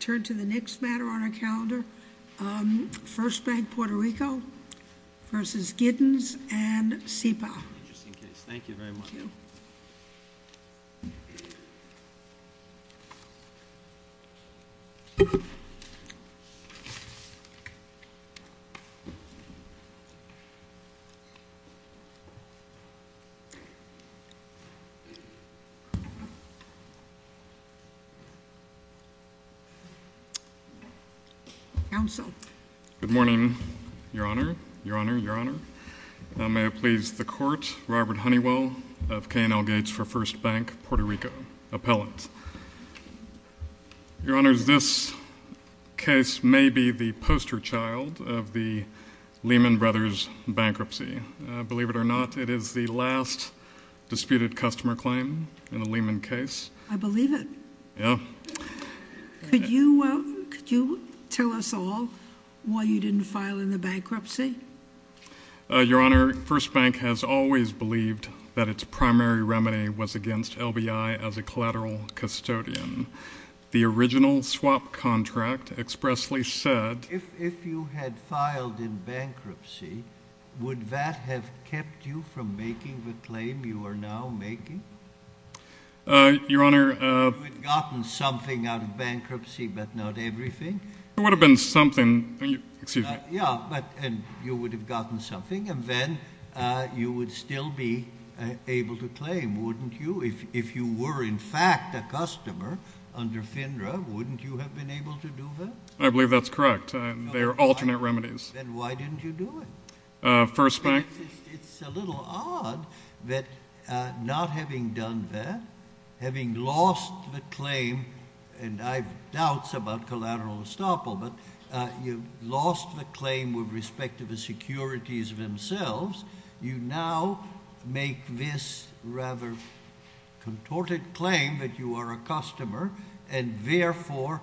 Turn to the next matter on our calendar. First Bank Puerto Rico versus Giddens and SEPA. Interesting case. Thank you very much. Counsel. Good morning, Your Honor, Your Honor, Your Honor. May I please the Court, Robert Honeywell of K&L Gates for First Bank Puerto Rico, appellant. Your Honors, this case may be the poster child of the Lehman Brothers bankruptcy. Believe it or not, it is the last disputed customer claim in a Lehman case. I believe it. Yeah. Could you tell us all why you didn't file in the bankruptcy? Your Honor, First Bank has always believed that its primary remedy was against LBI as a collateral custodian. The original swap contract expressly said... If you had filed in bankruptcy, would that have kept you from making the claim you are now making? Your Honor... You would have gotten something out of bankruptcy, but not everything. It would have been something. Excuse me. Yeah, but you would have gotten something, and then you would still be able to claim, wouldn't you? If you were in fact a customer under FINRA, wouldn't you have been able to do that? I believe that's correct. They are alternate remedies. Then why didn't you do it? First Bank... It's a little odd that not having done that, having lost the claim, and I have doubts about collateral estoppel, but you lost the claim with respect to the securities themselves. You now make this rather contorted claim that you are a customer, and therefore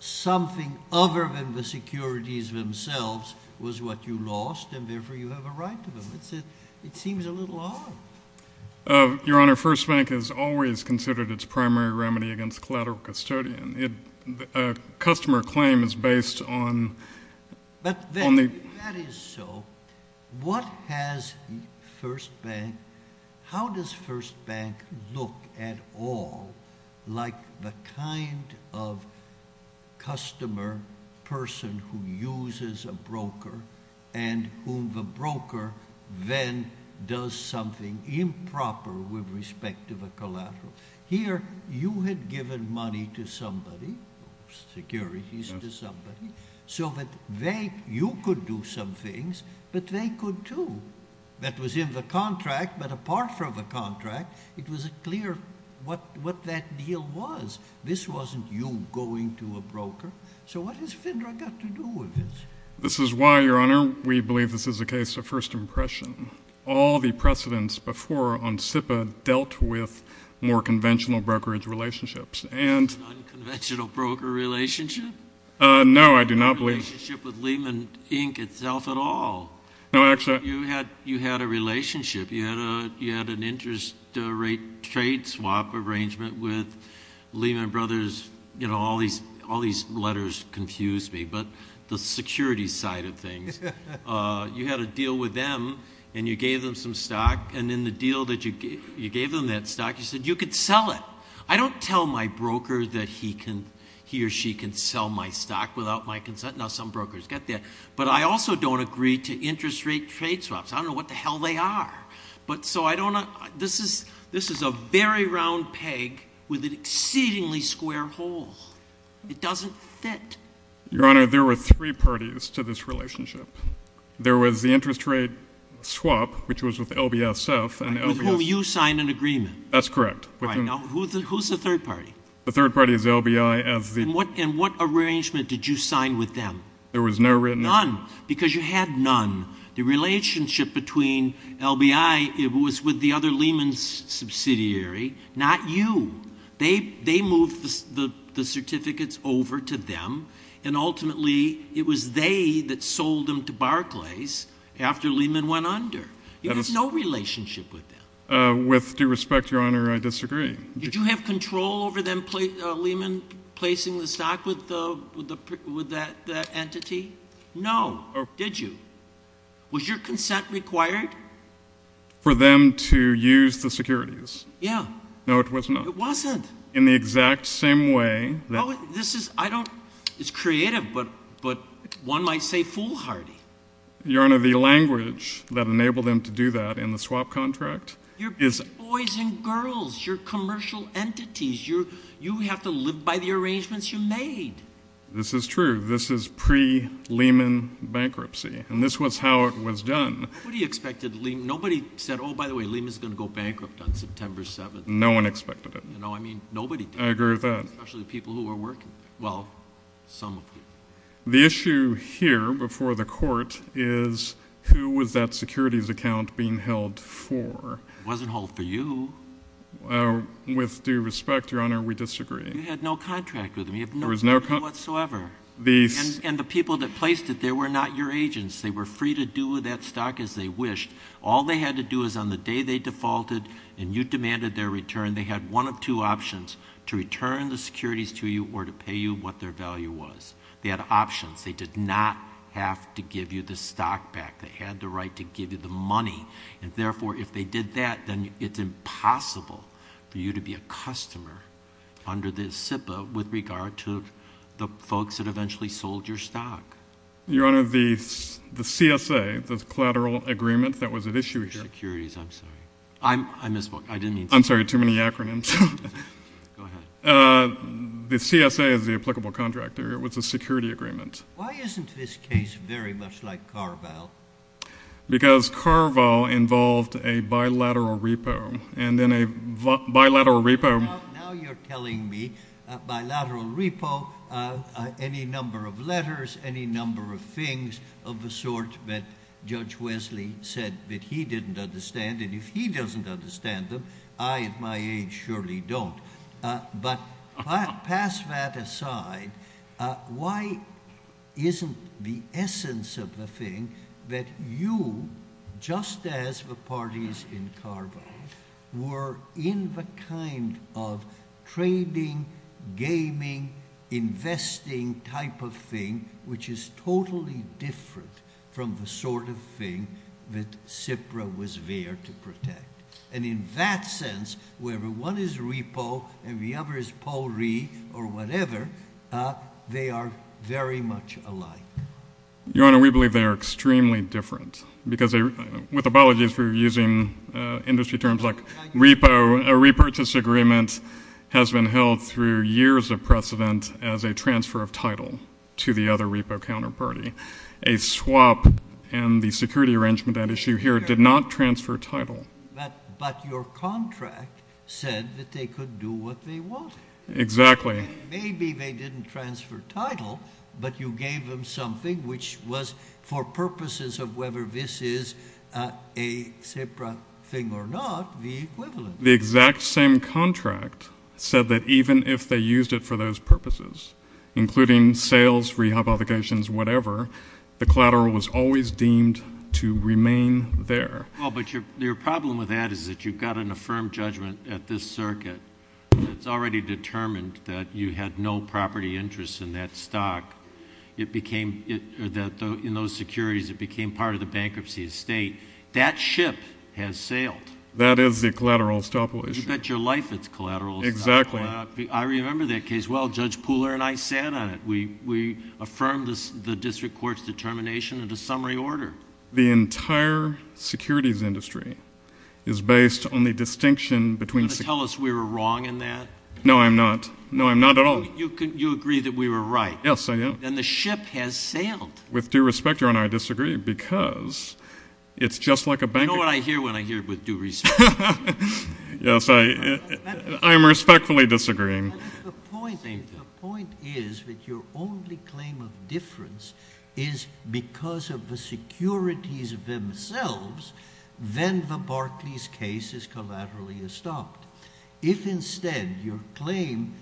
something other than the securities themselves was what you lost, and therefore you have a right to them. It seems a little odd. Your Honor, First Bank has always considered its primary remedy against collateral custodian. A customer claim is based on... If that is so, how does First Bank look at all like the kind of customer person who uses a broker and whom the broker then does something improper with respect to the collateral? Here you had given money to somebody, securities to somebody, so that you could do some things, but they could too. That was in the contract, but apart from the contract, it was clear what that deal was. This wasn't you going to a broker. So what has FINRA got to do with this? This is why, Your Honor, we believe this is a case of first impression. All the precedents before on SIPA dealt with more conventional brokerage relationships. This is an unconventional broker relationship? No, I do not believe... No relationship with Lehman, Inc. itself at all? No, actually... You had a relationship. You had an interest rate trade swap arrangement with Lehman Brothers. You had a deal with them, and you gave them some stock. And in the deal that you gave them that stock, you said you could sell it. I don't tell my broker that he or she can sell my stock without my consent. Now, some brokers get that. But I also don't agree to interest rate trade swaps. I don't know what the hell they are. But so I don't... This is a very round peg with an exceedingly square hole. It doesn't fit. Your Honor, there were three parties to this relationship. There was the interest rate swap, which was with LBSF. With whom you signed an agreement. That's correct. Who's the third party? The third party is LBI. And what arrangement did you sign with them? There was no written... None, because you had none. The relationship between LBI was with the other Lehman subsidiary, not you. They moved the certificates over to them. And ultimately, it was they that sold them to Barclays after Lehman went under. You had no relationship with them. With due respect, Your Honor, I disagree. Did you have control over them, Lehman, placing the stock with that entity? No. Did you? Was your consent required? For them to use the securities. Yeah. It wasn't? No, it was not. It wasn't? In the exact same way that... Oh, this is, I don't, it's creative, but one might say foolhardy. Your Honor, the language that enabled them to do that in the swap contract is... You're boys and girls. You're commercial entities. You have to live by the arrangements you made. This is true. This is pre-Lehman bankruptcy. And this was how it was done. Nobody expected Lehman. Nobody said, oh, by the way, Lehman's going to go bankrupt on September 7th. No one expected it. No, I mean, nobody did. I agree with that. Especially the people who were working there. Well, some of them. The issue here before the Court is who was that securities account being held for? It wasn't held for you. With due respect, Your Honor, we disagree. You had no contract with them. You had no contract whatsoever. And the people that placed it there were not your agents. They were free to do with that stock as they wished. All they had to do is on the day they defaulted and you demanded their return, they had one of two options, to return the securities to you or to pay you what their value was. They had options. They did not have to give you the stock back. They had the right to give you the money. And, therefore, if they did that, then it's impossible for you to be a customer under the SIPA with regard to the folks that eventually sold your stock. Your Honor, the CSA, the collateral agreement that was at issue here. Securities, I'm sorry. I misspoke. I didn't mean to. I'm sorry. Too many acronyms. Go ahead. The CSA is the applicable contractor. It was a security agreement. Why isn't this case very much like Carval? Because Carval involved a bilateral repo. And in a bilateral repo. Now you're telling me bilateral repo, any number of letters, any number of things of the sort that Judge Wesley said that he didn't understand. And if he doesn't understand them, I at my age surely don't. But pass that aside. Why isn't the essence of the thing that you, just as the parties in Carval, were in the kind of trading, gaming, investing type of thing, which is totally different from the sort of thing that SIPRA was there to protect? And in that sense, wherever one is repo and the other is Polri or whatever, they are very much alike. Your Honor, we believe they are extremely different. Because with apologies for using industry terms like repo, a repurchase agreement has been held through years of precedent as a transfer of title to the other repo counterparty. A swap in the security arrangement at issue here did not transfer title. But your contract said that they could do what they wanted. Exactly. Maybe they didn't transfer title, but you gave them something, which was for purposes of whether this is a SIPRA thing or not, the equivalent. The exact same contract said that even if they used it for those purposes, including sales, rehab obligations, whatever, the collateral was always deemed to remain there. But your problem with that is that you've got an affirmed judgment at this circuit that's already determined that you had no property interest in that stock. In those securities, it became part of the bankruptcy estate. That ship has sailed. That is a collateral estoppel issue. You bet your life it's collateral estoppel. Exactly. I remember that case well. Judge Pooler and I sat on it. We affirmed the district court's determination in a summary order. The entire securities industry is based on the distinction between securities. Are you going to tell us we were wrong in that? No, I'm not. No, I'm not at all. You agree that we were right. Yes, I am. Then the ship has sailed. With due respect, Your Honor, I disagree because it's just like a bank. I know what I hear when I hear with due respect. Yes, I am respectfully disagreeing. The point is that your only claim of difference is because of the securities themselves, then the Barclays case is collaterally estopped. If instead your claim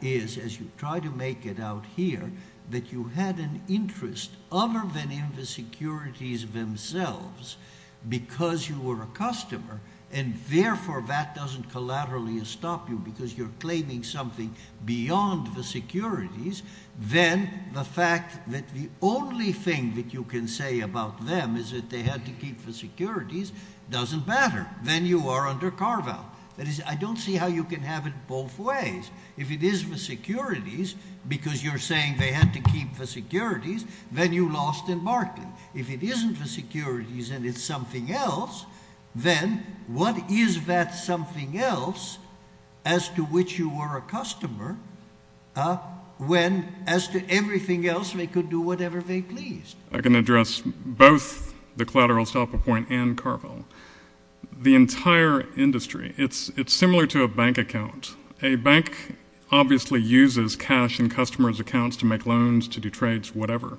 is, as you try to make it out here, that you had an interest other than in the securities themselves because you were a customer and, therefore, that doesn't collaterally estop you because you're claiming something beyond the securities, then the fact that the only thing that you can say about them is that they had to keep the securities doesn't matter. Then you are under carve-out. That is, I don't see how you can have it both ways. If it is the securities because you're saying they had to keep the securities, then you lost in Barclay. If it isn't the securities and it's something else, then what is that something else as to which you were a customer when, as to everything else, they could do whatever they pleased? I can address both the collateral estoppel point and Carvel. The entire industry, it's similar to a bank account. A bank obviously uses cash in customers' accounts to make loans, to do trades, whatever.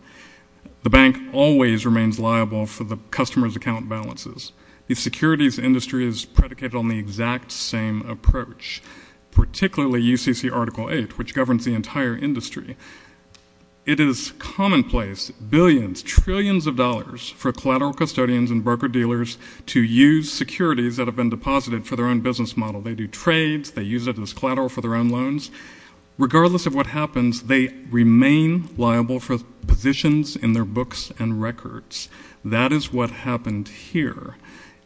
The bank always remains liable for the customer's account balances. The securities industry is predicated on the exact same approach, particularly UCC Article 8, which governs the entire industry. It is commonplace, billions, trillions of dollars for collateral custodians and broker-dealers to use securities that have been deposited for their own business model. They do trades. They use it as collateral for their own loans. Regardless of what happens, they remain liable for positions in their books and records. That is what happened here.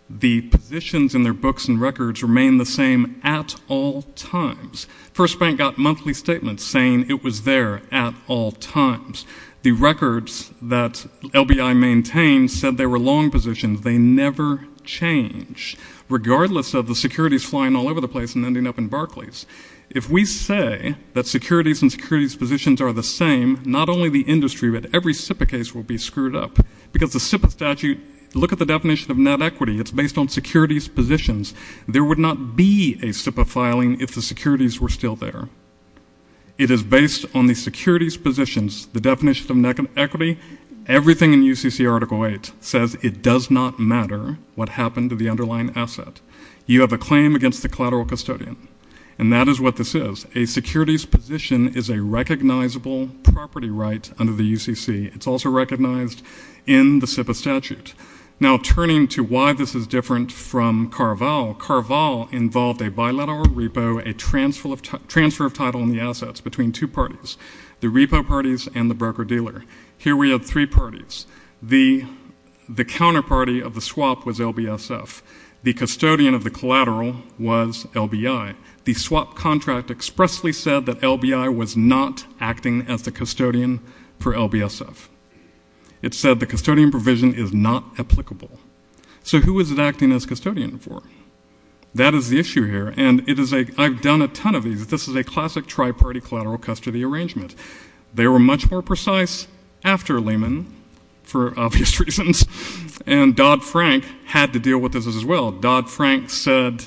The positions in their books and records remain the same at all times. First Bank got monthly statements saying it was there at all times. The records that LBI maintained said they were long positions. They never change, regardless of the securities flying all over the place and ending up in Barclays. If we say that securities and securities positions are the same, not only the industry but every SIPA case will be screwed up because the SIPA statute, look at the definition of net equity. It's based on securities positions. There would not be a SIPA filing if the securities were still there. It is based on the securities positions, the definition of net equity. Everything in UCC Article 8 says it does not matter what happened to the underlying asset. You have a claim against the collateral custodian. And that is what this is. A securities position is a recognizable property right under the UCC. It's also recognized in the SIPA statute. Now, turning to why this is different from Carval, Carval involved a bilateral repo, a transfer of title on the assets between two parties, the repo parties and the broker-dealer. Here we have three parties. The counterparty of the swap was LBSF. The custodian of the collateral was LBI. The swap contract expressly said that LBI was not acting as the custodian for LBSF. It said the custodian provision is not applicable. So who is it acting as custodian for? That is the issue here, and I've done a ton of these. This is a classic tri-party collateral custody arrangement. They were much more precise after Lehman, for obvious reasons, and Dodd-Frank had to deal with this as well. Dodd-Frank said,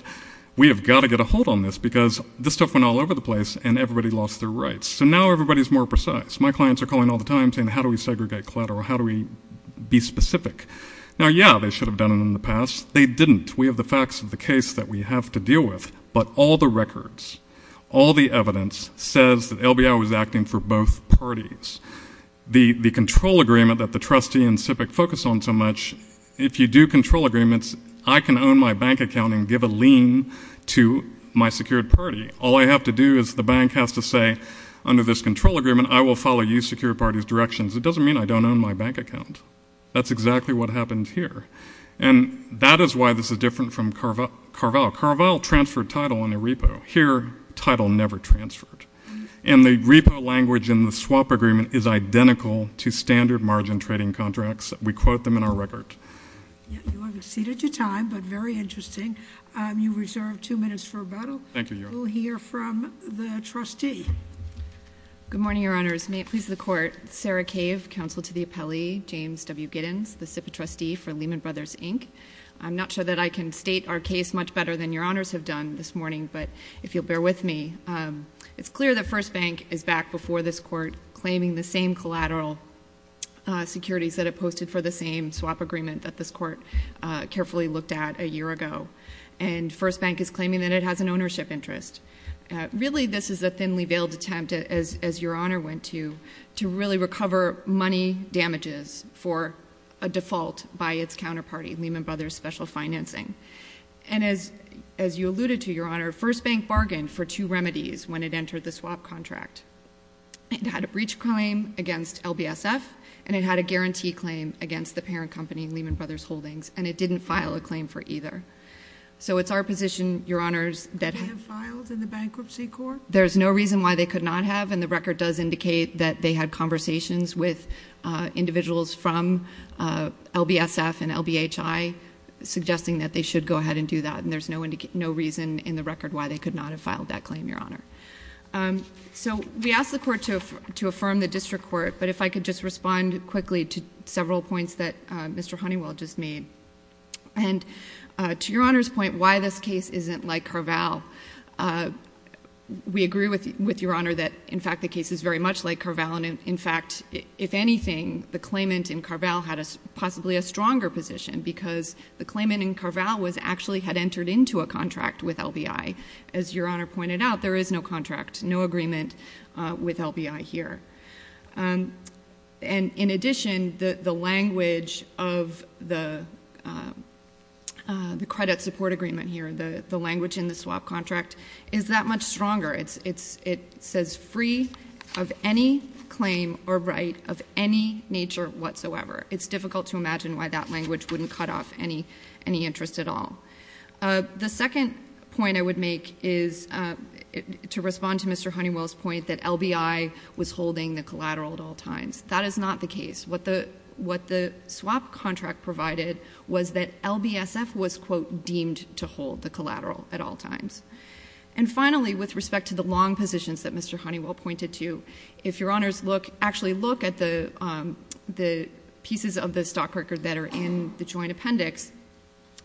we have got to get a hold on this because this stuff went all over the place and everybody lost their rights. So now everybody is more precise. My clients are calling all the time saying, how do we segregate collateral? How do we be specific? Now, yeah, they should have done it in the past. They didn't. We have the facts of the case that we have to deal with. But all the records, all the evidence says that LBI was acting for both parties. The control agreement that the trustee and SIPC focus on so much, if you do control agreements, I can own my bank account and give a lien to my secured party. All I have to do is the bank has to say, under this control agreement, I will follow you secured party's directions. It doesn't mean I don't own my bank account. That's exactly what happened here. And that is why this is different from Carvalho. Carvalho transferred title on the repo. Here, title never transferred. And the repo language in the swap agreement is identical to standard margin trading contracts. We quote them in our record. You have exceeded your time, but very interesting. You reserve two minutes for rebuttal. Thank you, Your Honor. We'll hear from the trustee. Good morning, Your Honors. May it please the Court. Sarah Cave, counsel to the appellee. James W. Giddens, the SIPC trustee for Lehman Brothers, Inc. I'm not sure that I can state our case much better than Your Honors have done this morning, but if you'll bear with me, it's clear that First Bank is back before this Court claiming the same collateral securities that it posted for the same swap agreement that this Court carefully looked at a year ago. And First Bank is claiming that it has an ownership interest. Really, this is a thinly veiled attempt, as Your Honor went to, to really recover money damages for a default by its counterparty, Lehman Brothers Special Financing. And as you alluded to, Your Honor, First Bank bargained for two remedies when it entered the swap contract. It had a breach claim against LBSF, and it had a guarantee claim against the parent company, Lehman Brothers Holdings, and it didn't file a claim for either. So it's our position, Your Honors, that... Could it have filed in the bankruptcy court? There's no reason why they could not have, and the record does indicate that they had conversations with individuals from LBSF and LBHI suggesting that they should go ahead and do that, and there's no reason in the record why they could not have filed that claim, Your Honor. So we asked the Court to affirm the district court, but if I could just respond quickly to several points that Mr. Honeywell just made. And to Your Honor's point, why this case isn't like Carvalho, we agree with Your Honor that, in fact, the case is very much like Carvalho, and, in fact, if anything, the claimant in Carvalho had possibly a stronger position because the claimant in Carvalho actually had entered into a contract with LBHI. As Your Honor pointed out, there is no contract, no agreement with LBHI here. And, in addition, the language of the credit support agreement here, the language in the swap contract, is that much stronger. It says free of any claim or right of any nature whatsoever. It's difficult to imagine why that language wouldn't cut off any interest at all. The second point I would make is to respond to Mr. Honeywell's point that LBHI was holding the collateral at all times. That is not the case. What the swap contract provided was that LBSF was, quote, deemed to hold the collateral at all times. And, finally, with respect to the long positions that Mr. Honeywell pointed to, if Your Honors actually look at the pieces of the stock record that are in the joint appendix,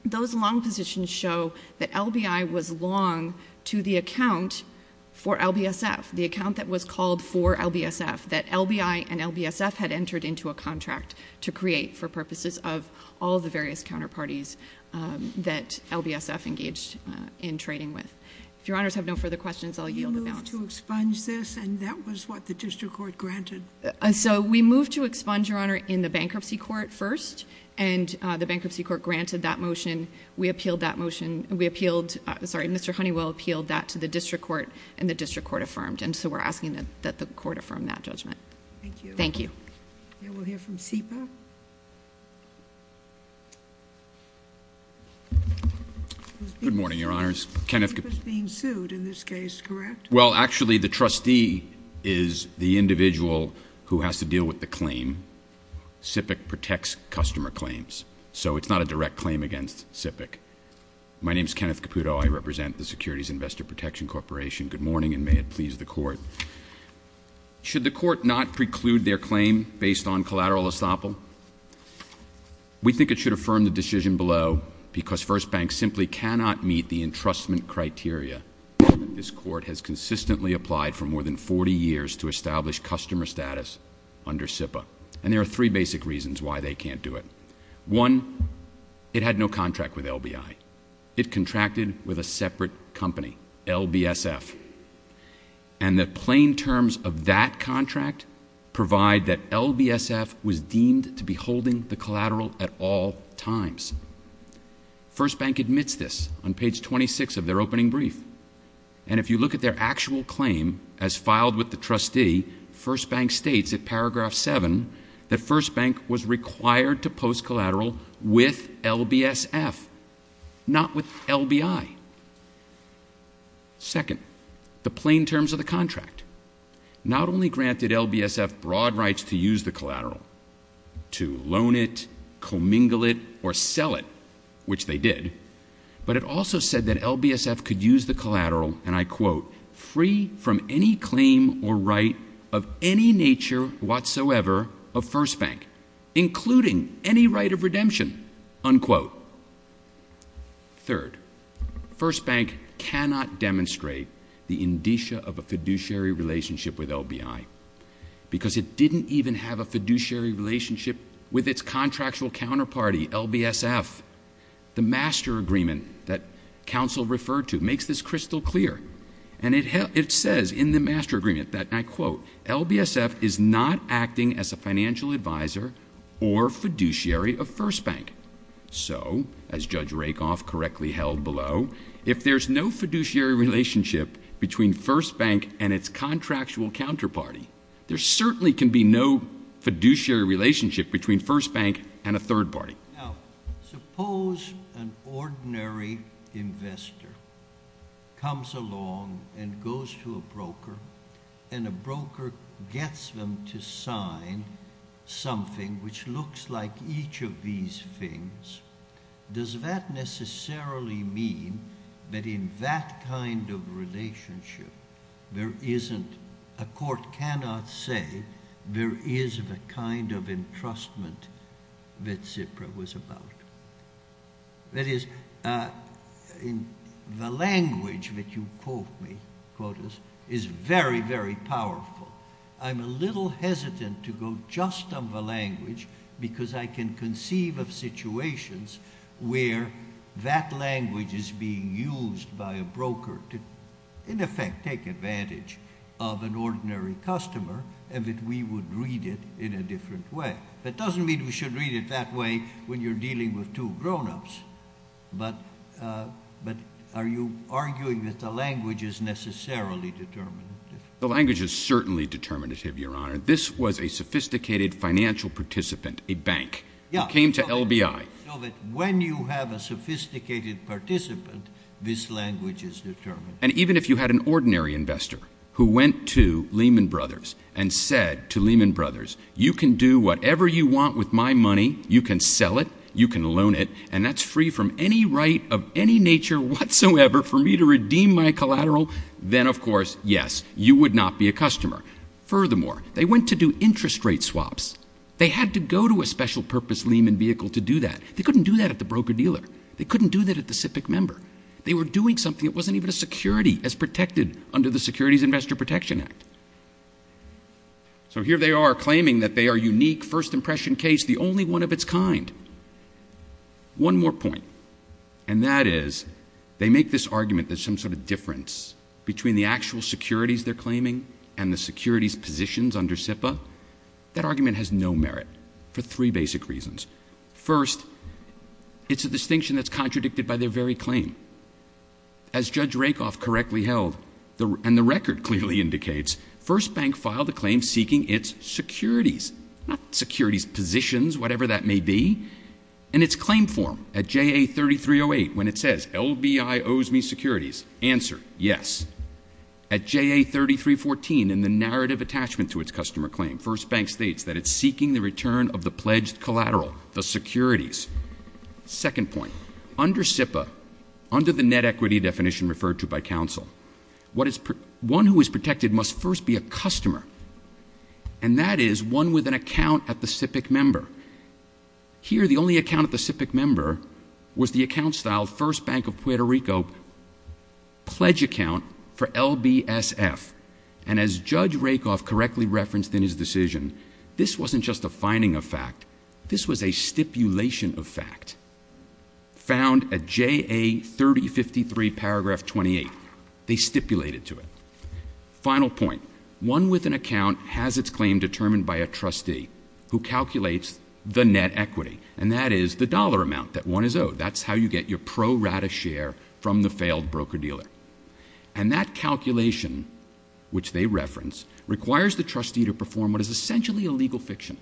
those long positions show that LBHI was long to the account for LBSF, the account that was called for LBSF, that LBHI and LBSF had entered into a contract to create for purposes of all the various counterparties that LBSF engaged in trading with. If Your Honors have no further questions, I'll yield the balance. You moved to expunge this, and that was what the district court granted? So we moved to expunge, Your Honor, in the bankruptcy court first, and the bankruptcy court granted that motion. We appealed that motion. We appealed, sorry, Mr. Honeywell appealed that to the district court, and the district court affirmed, and so we're asking that the court affirm that judgment. Thank you. Thank you. Then we'll hear from SEPA. Good morning, Your Honors. SEPA's being sued in this case, correct? Well, actually, the trustee is the individual who has to deal with the claim. SIPC protects customer claims, so it's not a direct claim against SIPC. My name is Kenneth Caputo. I represent the Securities Investor Protection Corporation. Good morning, and may it please the court. Should the court not preclude their claim based on collateral estoppel? We think it should affirm the decision below, because First Bank simply cannot meet the entrustment criteria that this court has consistently applied for more than 40 years to establish customer status under SIPA, and there are three basic reasons why they can't do it. One, it had no contract with LBI. It contracted with a separate company, LBSF, and the plain terms of that contract provide that LBSF was deemed to be holding the collateral at all times. First Bank admits this on page 26 of their opening brief, and if you look at their actual claim as filed with the trustee, First Bank states at paragraph 7 that First Bank was required to post collateral with LBSF, not with LBI. Second, the plain terms of the contract not only granted LBSF broad rights to use the collateral, to loan it, commingle it, or sell it, which they did, but it also said that LBSF could use the collateral, and I quote, free from any claim or right of any nature whatsoever of First Bank, including any right of redemption, unquote. Third, First Bank cannot demonstrate the indicia of a fiduciary relationship with LBI because it didn't even have a fiduciary relationship with its contractual counterparty, LBSF. The master agreement that counsel referred to makes this crystal clear, and it says in the master agreement that, and I quote, LBSF is not acting as a financial advisor or fiduciary of First Bank. So, as Judge Rakoff correctly held below, if there's no fiduciary relationship between First Bank and its contractual counterparty, there certainly can be no fiduciary relationship between First Bank and a third party. Now, suppose an ordinary investor comes along and goes to a broker, and a broker gets them to sign something which looks like each of these things. Does that necessarily mean that in that kind of relationship, there isn't, a court cannot say there is the kind of entrustment that Zipra was about? That is, the language that you quote me, quotas, is very, very powerful. I'm a little hesitant to go just on the language because I can conceive of situations where that language is being used by a broker to, in effect, take advantage of an ordinary customer and that we would read it in a different way. That doesn't mean we should read it that way when you're dealing with two grown-ups, but are you arguing that the language is necessarily determinative? The language is certainly determinative, Your Honor. This was a sophisticated financial participant, a bank, who came to LBI. So that when you have a sophisticated participant, this language is determinative. And even if you had an ordinary investor who went to Lehman Brothers and said to Lehman Brothers, you can do whatever you want with my money, you can sell it, you can loan it, and that's free from any right of any nature whatsoever for me to redeem my collateral, then, of course, yes, you would not be a customer. Furthermore, they went to do interest rate swaps. They had to go to a special-purpose Lehman vehicle to do that. They couldn't do that at the broker-dealer. They couldn't do that at the SIPC member. They were doing something that wasn't even a security as protected under the Securities Investor Protection Act. So here they are claiming that they are unique, first-impression case, the only one of its kind. One more point, and that is they make this argument that some sort of difference between the actual securities they're claiming and the securities positions under SIPA, that argument has no merit for three basic reasons. First, it's a distinction that's contradicted by their very claim. As Judge Rakoff correctly held, and the record clearly indicates, First Bank filed a claim seeking its securities, not securities positions, whatever that may be, and its claim form at JA 3308 when it says LBI owes me securities. Answer, yes. At JA 3314, in the narrative attachment to its customer claim, First Bank states that it's seeking the return of the pledged collateral, the securities. Second point, under SIPA, under the net equity definition referred to by counsel, one who is protected must first be a customer, and that is one with an account at the SIPC member. Here, the only account at the SIPC member was the account style First Bank of Puerto Rico pledge account for LBSF. And as Judge Rakoff correctly referenced in his decision, this wasn't just a finding of fact. This was a stipulation of fact found at JA 3053 paragraph 28. They stipulated to it. Final point, one with an account has its claim determined by a trustee who calculates the net equity, and that is the dollar amount that one is owed. That's how you get your pro rata share from the failed broker-dealer. And that calculation, which they reference, requires the trustee to perform what is essentially a legal fiction.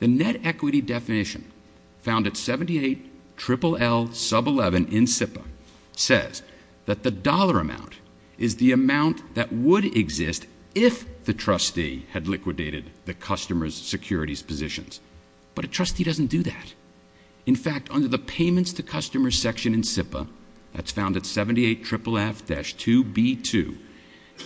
The net equity definition found at 78LLL sub 11 in SIPA says that the dollar amount is the amount that would exist if the trustee had liquidated the customer's securities positions. But a trustee doesn't do that. In fact, under the payments to customers section in SIPA, that's found at 78FFF-2B2,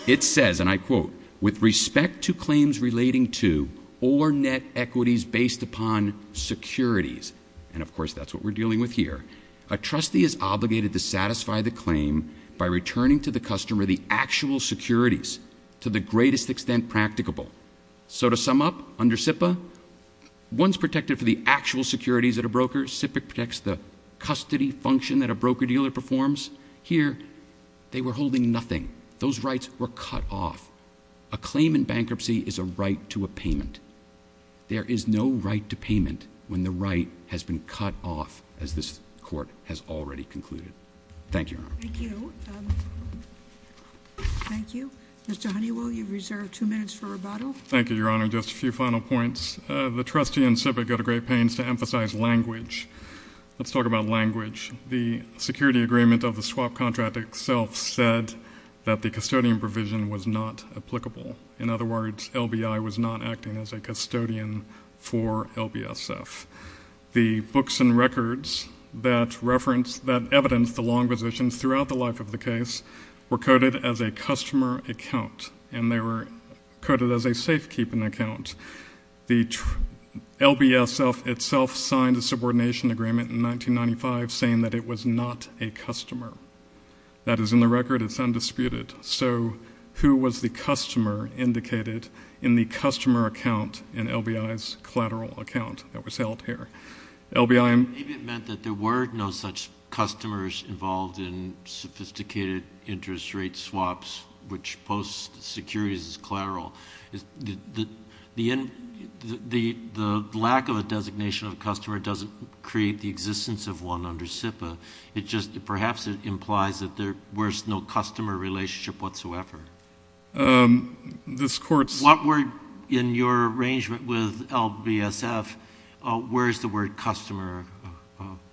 it says, and I quote, with respect to claims relating to or net equities based upon securities, and of course that's what we're dealing with here, a trustee is obligated to satisfy the claim by returning to the customer the actual securities to the greatest extent practicable. So to sum up, under SIPA, one's protected for the actual securities at a broker. SIPA protects the custody function that a broker-dealer performs. Here, they were holding nothing. Those rights were cut off. A claim in bankruptcy is a right to a payment. There is no right to payment when the right has been cut off, as this court has already concluded. Thank you, Your Honor. Thank you. Thank you. Mr. Honeywell, you've reserved two minutes for rebuttal. Thank you, Your Honor. Just a few final points. The trustee and SIPA go to great pains to emphasize language. Let's talk about language. The security agreement of the swap contract itself said that the custodian provision was not applicable. In other words, LBI was not acting as a custodian for LBSF. The books and records that evidence the long positions throughout the life of the case were coded as a customer account, and they were coded as a safekeeping account. The LBSF itself signed a subordination agreement in 1995 saying that it was not a customer. That is in the record. It's undisputed. So who was the customer indicated in the customer account in LBI's collateral account that was held here? Maybe it meant that there were no such customers involved in sophisticated interest rate swaps, which post securities is collateral. The lack of a designation of a customer doesn't create the existence of one under SIPA. It just perhaps implies that there was no customer relationship whatsoever. This Court's— What were, in your arrangement with LBSF, where is the word customer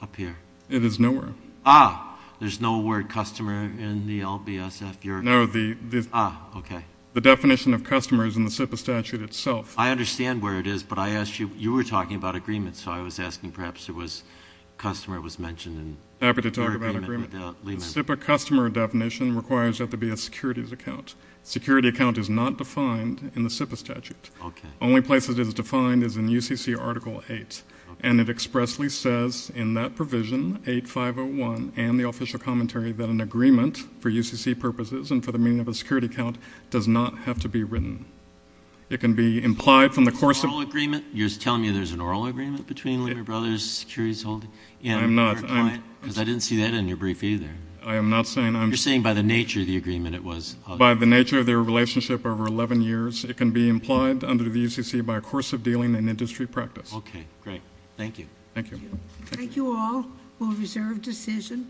up here? It is nowhere. Ah, there's no word customer in the LBSF, Your Honor. No, the— Ah, okay. The definition of customer is in the SIPA statute itself. I understand where it is, but I asked you—you were talking about agreements, so I was asking perhaps there was—customer was mentioned in your agreement with Lehman. Happy to talk about agreement. The SIPA customer definition requires that there be a securities account. A security account is not defined in the SIPA statute. Okay. The only place it is defined is in UCC Article 8, and it expressly says in that provision, 8501, and the official commentary, that an agreement for UCC purposes and for the meaning of a security account does not have to be written. It can be implied from the course of— An oral agreement? You're telling me there's an oral agreement between Lehman Brothers Securities Holding and— I am not. Because I didn't see that in your brief either. I am not saying I'm— You're saying by the nature of the agreement it was— By the nature of their relationship over 11 years, it can be implied under the UCC by a course of dealing and industry practice. Okay, great. Thank you. Thank you. Thank you all. We'll reserve decision.